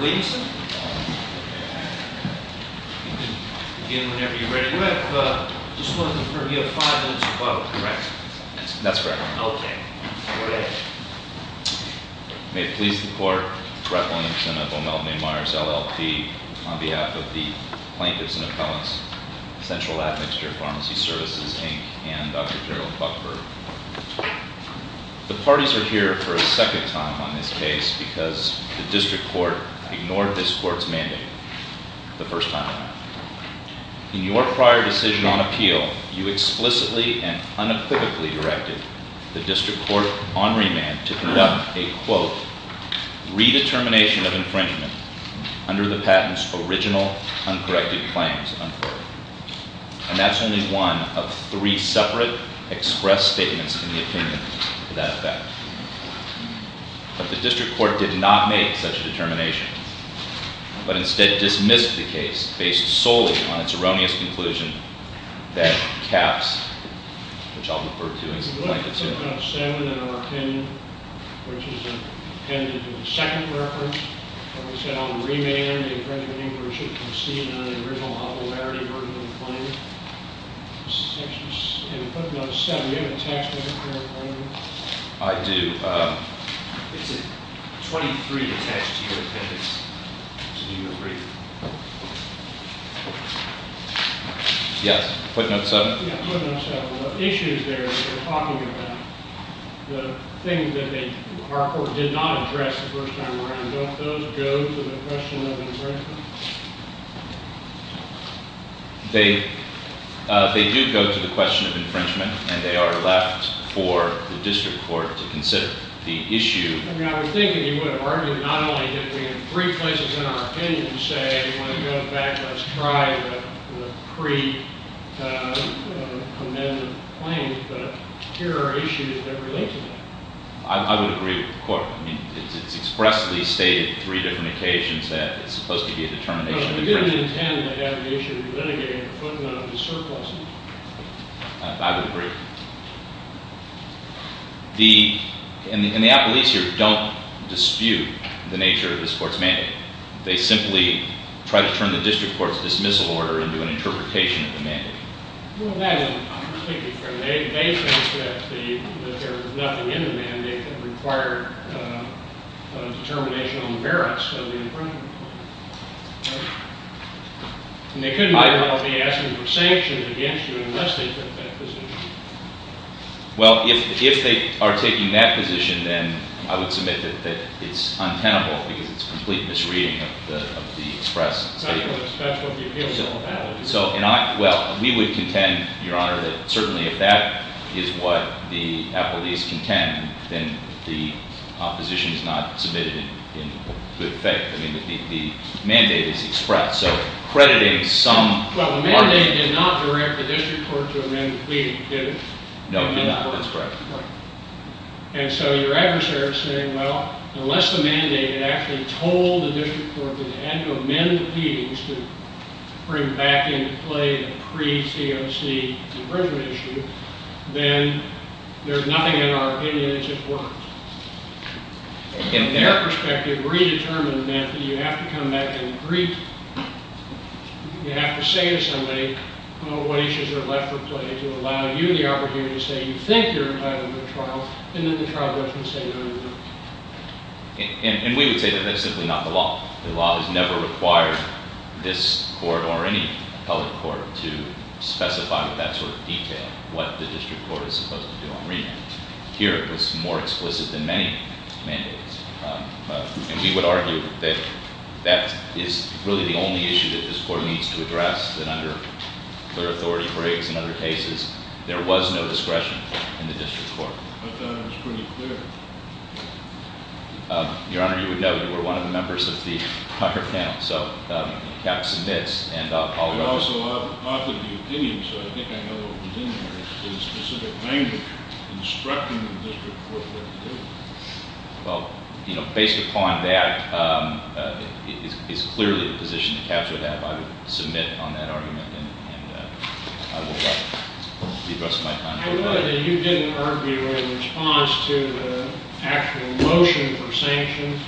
Admixture v. Advanced Cardiothoracic Surgery Mr. Williamson, you can begin whenever you're ready, but I just want to confirm, you have five minutes to follow, correct? That's correct. Okay. May it please the court, Brett Williamson of O'Melton A. Myers, LLP, on behalf of the Plaintiffs and Appellants, Central Admixture Pharmacy Services, Inc., and Dr. Gerald Buckford. The parties are here for a second time on this case because the district court ignored this court's mandate the first time around. In your prior decision on appeal, you explicitly and unequivocally directed the district court on remand to conduct a, quote, redetermination of infringement under the patent's original uncorrected claims, unquote. And that's only one of three separate expressed statements in the opinion to that effect. But the district court did not make such a determination, but instead dismissed the case based solely on its erroneous conclusion that caps, which I'll refer to as a plaintiff's hearing. Do we have footnote seven in our opinion, which is a pendant of the second reference? Like I said, on remand, the infringement inquiry should concede on the original authority burden of the claim. In footnote seven, do you have a text of the current claim? I do. It's a 23 attached to your appendix. Do you agree? Yes. Footnote seven? Yeah, footnote seven. The issues there that you're talking about, the things that our court did not address the first time around, don't those go to the question of infringement? They do go to the question of infringement, and they are left for the district court to consider. The issue- I mean, I was thinking you would argue not only that we have three places in our opinion to say, we want to go back, let's try the pre-condemned claim, but here are issues that relate to that. I would agree with the court. I mean, it's expressly stated on three different occasions that it's supposed to be a determination of infringement. No, we didn't intend to have the issue of litigating a footnote to surplus it. I would agree. And the appellees here don't dispute the nature of this court's mandate. They simply try to turn the district court's dismissal order into an interpretation of the mandate. Well, then I'm thinking from their basis that there was nothing in the mandate that required a determination on the merits of the infringement claim. And they could very well be asking for sanctions against you unless they took that position. Well, if they are taking that position, then I would submit that it's untenable because it's a complete misreading of the express statement. That's what the appeal is all about. Well, we would contend, Your Honor, that certainly if that is what the appellees contend, then the opposition is not submitted in good faith. I mean, the mandate is expressed. So crediting some argument— Well, the mandate did not direct the district court to amend the pleading, did it? No, it did not. That's correct. And so your adversary is saying, well, unless the mandate had actually told the district court that it had to amend the pleadings to bring back into play the pre-COC infringement issue, then there's nothing in our opinion that just works. In their perspective, re-determined meant that you have to come back and agree—you have to say to somebody, oh, what issues are left for play to allow you the opportunity to say you think you're entitled to a trial and that the trial doesn't stay under the law. And we would say that that's simply not the law. The law has never required this court or any appellate court to specify with that sort of detail what the district court is supposed to do on remand. Here, it was more explicit than many mandates. And we would argue that that is really the only issue that this court needs to address, and under clear authority, Briggs, and other cases, there was no discretion in the district court. I thought it was pretty clear. Your Honor, you would know you were one of the members of the prior panel, so you kept submits and— I would also offer the opinion, so I think I know what was in there, is specific language instructing the district court what to do. Well, you know, based upon that, it's clearly the position to capture that. I would submit on that argument, and I will let the rest of my time go by. I know that you didn't argue in response to the actual motion for sanctions.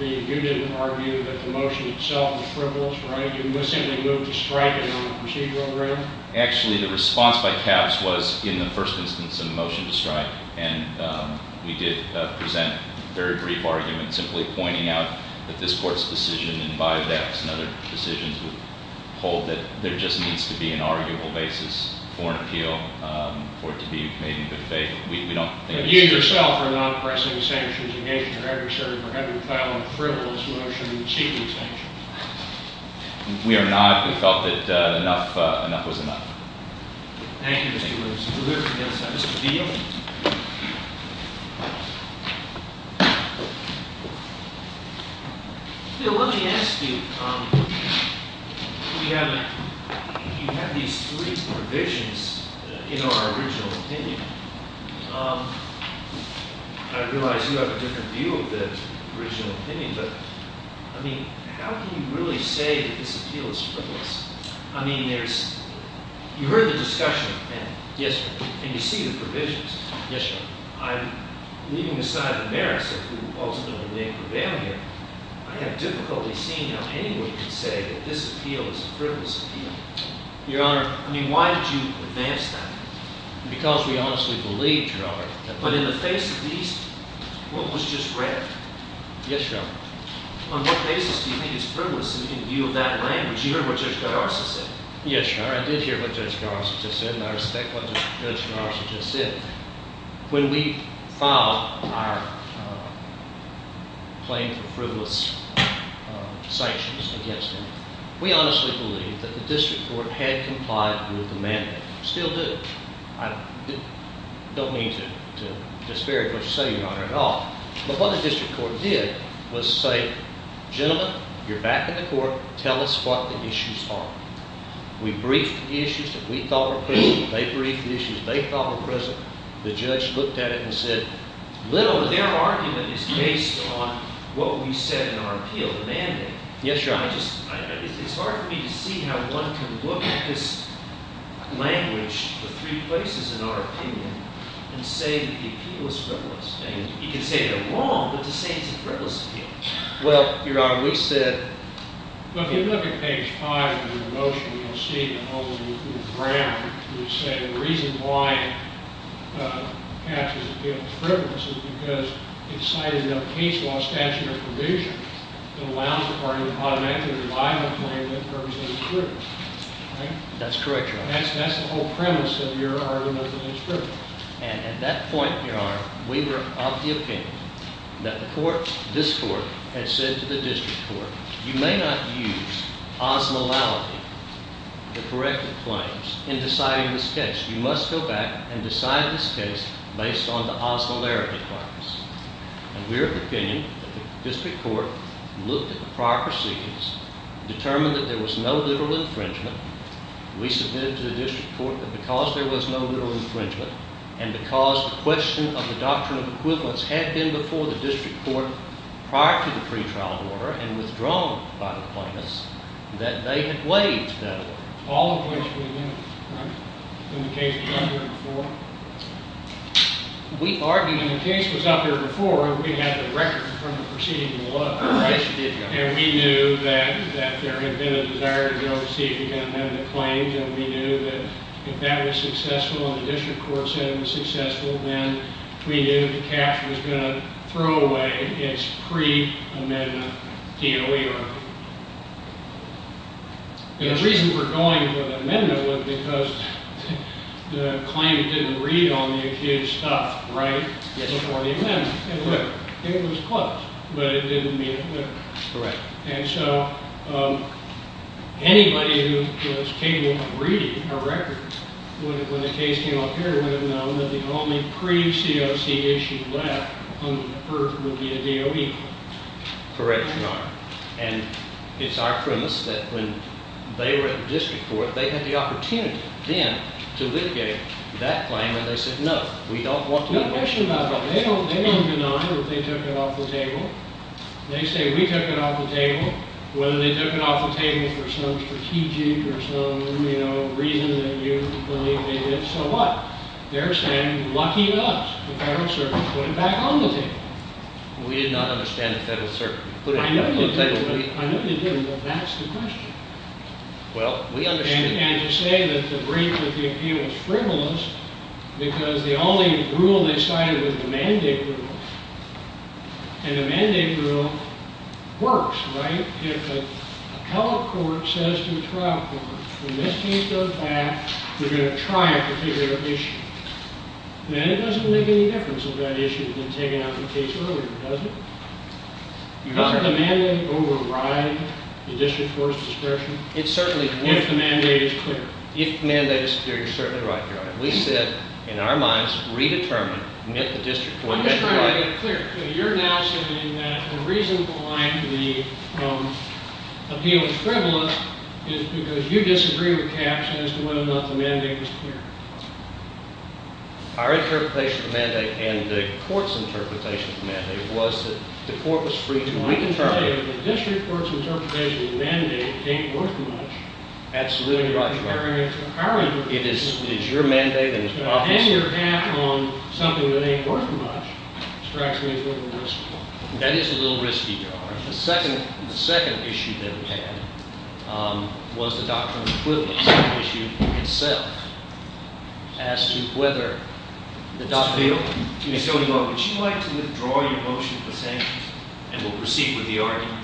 You didn't argue that the motion itself was frivolous, right? You simply moved to strike it on a procedural ground? Actually, the response by Capps was, in the first instance, a motion to strike. And we did present a very brief argument, simply pointing out that this court's decision, and by that, and other decisions, would hold that there just needs to be an arguable basis for an appeal, for it to be made in good faith. But you yourself are not pressing sanctions against your adversary for having filed a frivolous motion seeking sanctions. We are not. We felt that enough was enough. Thank you, Mr. Williams. We'll move to the other side. Mr. Deal? Okay. Bill, let me ask you. You have these three provisions in our original opinion. I realize you have a different view of the original opinion, but, I mean, how can you really say that this appeal is frivolous? I mean, you heard the discussion, and you see the provisions. Yes, Your Honor. I'm leaving aside the merits of who ultimately may prevail here. I have difficulty seeing how anyone can say that this appeal is a frivolous appeal. Your Honor, I mean, why did you advance that? Because we honestly believed, Your Honor. But in the face of these, what was just read? Yes, Your Honor. On what basis do you think it's frivolous in view of that language? Because you heard what Judge Garza just said. Yes, Your Honor. I did hear what Judge Garza just said, and I respect what Judge Garza just said. When we filed our claim for frivolous sanctions against him, we honestly believed that the District Court had complied with the mandate. Still do. I don't mean to disparage what you say, Your Honor, at all. But what the District Court did was say, gentlemen, you're back in the court. Tell us what the issues are. We briefed the issues that we thought were present. They briefed the issues they thought were present. The judge looked at it and said, little to their argument is based on what we said in our appeal, the mandate. Yes, Your Honor. It's hard for me to see how one can look at this language, the three places in our opinion, and say that the appeal is frivolous. You can say they're wrong, but to say it's a frivolous appeal. Well, Your Honor, we said— Well, if you look at page 5 of your motion, you'll see in the whole of the grammar, you say the reason why it has to appeal frivolous is because it cited a case law statute of provision that allows the party to automatically rely on a claim that purportedly is frivolous. That's correct, Your Honor. That's the whole premise of your argument that it's frivolous. And at that point, Your Honor, we were of the opinion that the court—this court had said to the district court, you may not use osmolality, the corrective claims, in deciding this case. You must go back and decide this case based on the osmolarity claims. And we're of the opinion that the district court looked at the prior proceedings, determined that there was no literal infringement. We submitted to the district court that because there was no literal infringement and because the question of the doctrine of equivalence had been before the district court prior to the pretrial order and withdrawn by the plaintiffs, that they had waived that order. All of which we knew. Right. In the case that was out there before. We argued— In the case that was out there before, we had the record from the proceeding below. Yes, you did, Your Honor. And we knew that there had been a desire to go and see if you can amend the claims. And we knew that if that was successful and the district court said it was successful, then we knew the cash was going to throw away its pre-amendment DOE order. And the reason we're going for the amendment was because the claim didn't read on the accused's stuff right before the amendment. It looked—it was close, but it didn't meet it. Correct. And so anybody who was capable of reading a record when the case came up here would have known that the only pre-COC issue left on the earth would be the DOE. Correct, Your Honor. And it's our premise that when they were at the district court, they had the opportunity then to litigate that claim. And they said, no, we don't want to— There's no question about that. They don't deny that they took it off the table. They say, we took it off the table, whether they took it off the table for some strategic or some reason that you believe they did. So what? They're saying, lucky us. The Federal Circuit put it back on the table. We did not understand the Federal Circuit put it on the table. I know you didn't, but that's the question. Well, we understood. And to say that the brief with the appeal was frivolous because the only rule they cited was the mandate rule. And the mandate rule works, right? If a public court says to a trial court, when this case goes back, we're going to try a particular issue. Then it doesn't make any difference if that issue had been taken out of the case earlier, does it? Your Honor— Doesn't the mandate override the district court's discretion? If the mandate is clear. If the mandate is clear, you're certainly right, Your Honor. We said, in our minds, redetermine if the district court— I'm just trying to make it clear. You're now saying that the reason behind the appeal of frivolous is because you disagree with Cass as to whether or not the mandate is clear. Our interpretation of the mandate and the court's interpretation of the mandate was that the court was free to redetermine— Absolutely right, Your Honor. It is your mandate and it's your office's mandate. That is a little risky, Your Honor. The second issue that we had was the doctrine of frivolous, the issue itself, as to whether the doctrine— Mr. Field? Yes, Your Honor. Would you like to withdraw your motion for sanctions?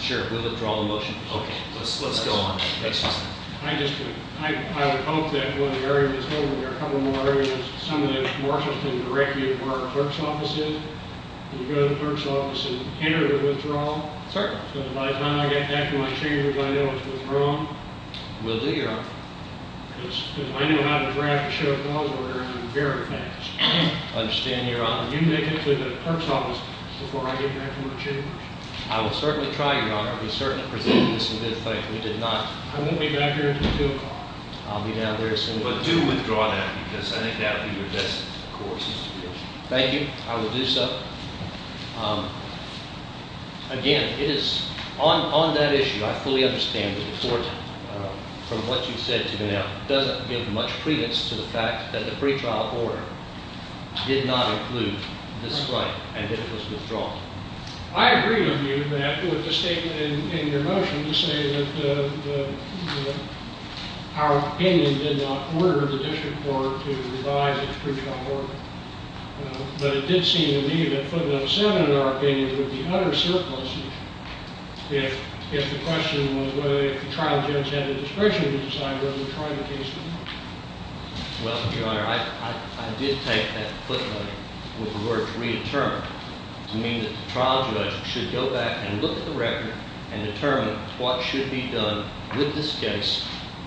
Sure. We'll withdraw the motion. Okay. Let's go on. I would hope that when the hearing is over, there are a couple more hearings. Some of them are supposed to direct you to where the clerk's office is. Would you go to the clerk's office and enter the withdrawal? Certainly. By the time I get back to my chambers, I know it's withdrawn. We'll do, Your Honor. Because I know how to draft a show of balls very fast. I understand, Your Honor. Would you make it to the clerk's office before I get back to my chambers? I will certainly try, Your Honor. I'll be certain to present this in good faith. We did not— I won't be back here until 2 o'clock. I'll be down there as soon as— But do withdraw that because I think that would be your best course. Thank you. I will do so. Again, it is—on that issue, I fully understand that the court, from what you've said to me now, doesn't give much credence to the fact that the pretrial order did not include this right and that it was withdrawn. I agree with you that with the statement in your motion to say that our opinion did not order the district court to revise its pretrial order. But it did seem to me that footnote 7, in our opinion, would be utter surpluses if the question was whether the trial judge had the discretion to decide whether to try the case or not. Well, Your Honor, I did take that footnote with the word to re-determine, to mean that the trial judge should go back and look at the record and determine what should be done with this case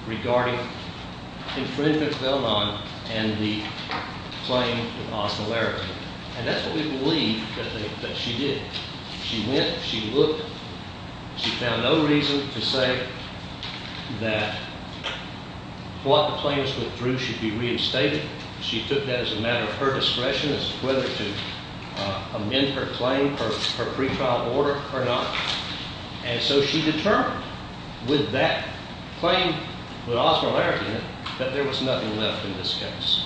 regarding infringement felon and the claim of hostility. And that's what we believe that she did. She went. She looked. She found no reason to say that what the plaintiffs went through should be reinstated. She took that as a matter of her discretion as to whether to amend her claim, her pretrial order or not. And so she determined with that claim, with Osmer Larratt in it, that there was nothing left in this case.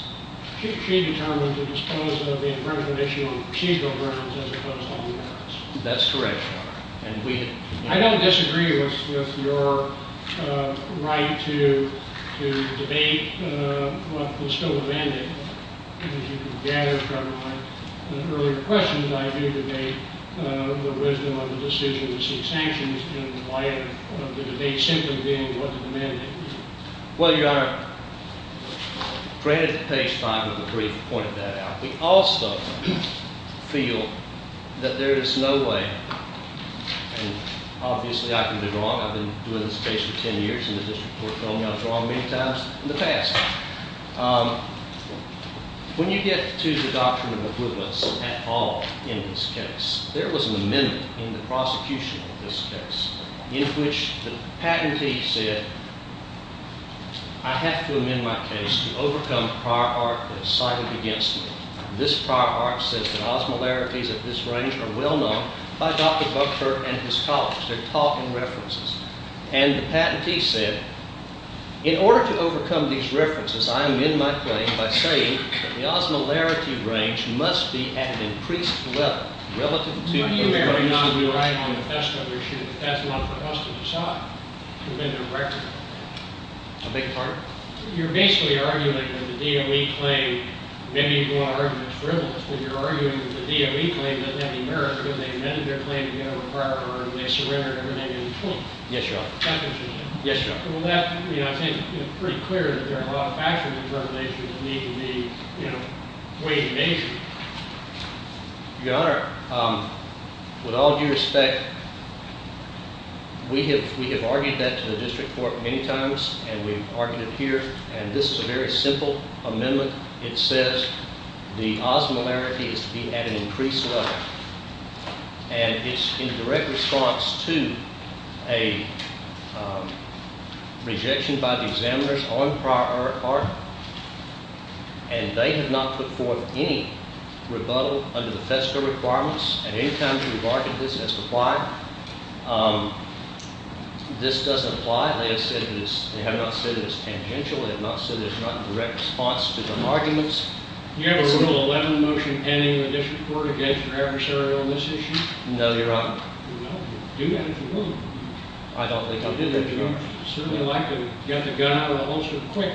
She determined to dispose of the infringement issue on procedural grounds as opposed to the merits. That's correct, Your Honor. I don't disagree with your right to debate what is still amended. As you gathered from my earlier questions, I do debate the wisdom of the decision to seek sanctions in light of the debate simply being what is amended. Well, Your Honor, granted that Page 5 of the brief pointed that out, we also feel that there is no way, and obviously I can be wrong. I've been doing this case for 10 years in the district court, and I've been wrong many times in the past. When you get to the doctrine of equivalence at all in this case, there was an amendment in the prosecution of this case in which the patentee said, I have to amend my case to overcome the prior art that is cited against me. This prior art says that Osmer Larratties of this range are well-known by Dr. Buckford and his colleagues. They're tall in references. And the patentee said, in order to overcome these references, I amend my claim by saying that the Osmer Larrattie range must be at an increased level relative to the… That's not for us to decide. A big part? You're basically arguing that the DOE claim, maybe you don't want to argue it's frivolous, but you're arguing that the DOE claim that they have the merit to amend their claim to get over a prior art, and they surrender it, and they do the truth. Yes, Your Honor. Well, that, I think, is pretty clear that there are a lot of factors in this revelation that need to be weighed and measured. Your Honor, with all due respect, we have argued that to the district court many times, and we've argued it here, and this is a very simple amendment. It says the Osmer Larrattie is to be at an increased level, and it's in direct response to a rejection by the examiners on prior art, and they have not put forth any rebuttal under the FEDSCA requirements. At any time, we've argued this has to apply. This doesn't apply. They have not said it is tangential. They have not said it is not in direct response to the arguments. Do you have a Rule 11 motion pending in the district court against your adversary on this issue? No, Your Honor. Well, do that if you will. I don't think I do, Your Honor. Certainly like to get the gun out of the holster quick.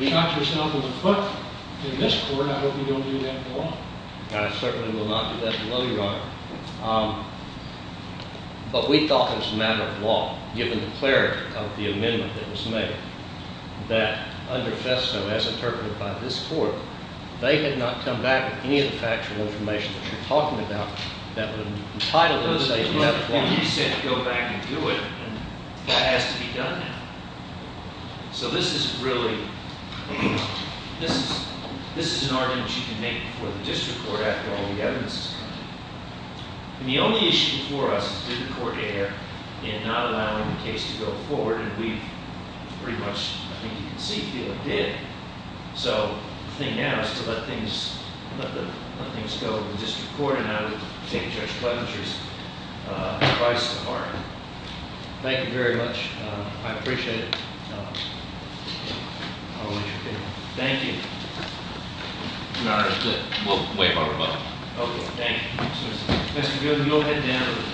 Shot yourself in the foot in this court. I hope you don't do that in law. I certainly will not do that in law, Your Honor. But we thought it was a matter of law, given the clarity of the amendment that was made, that under FEDSCA, as interpreted by this court, they had not come back with any of the factual information that you're talking about that would entitle them to say it's not in law. He said go back and do it, and that has to be done now. So this is really, this is an argument you can make for the district court after all the evidence. And the only issue before us is did the court err in not allowing the case to go forward? And we've pretty much, I think you can see, feel it did. So the thing now is to let things go to the district court, and I would take Judge Clementry's advice to heart. Thank you very much. I appreciate it. Thank you. We'll wait for a rebuttal. Okay, thank you. Mr. Gooden, you'll head down to the clerk's office. Yes, sir. Okay.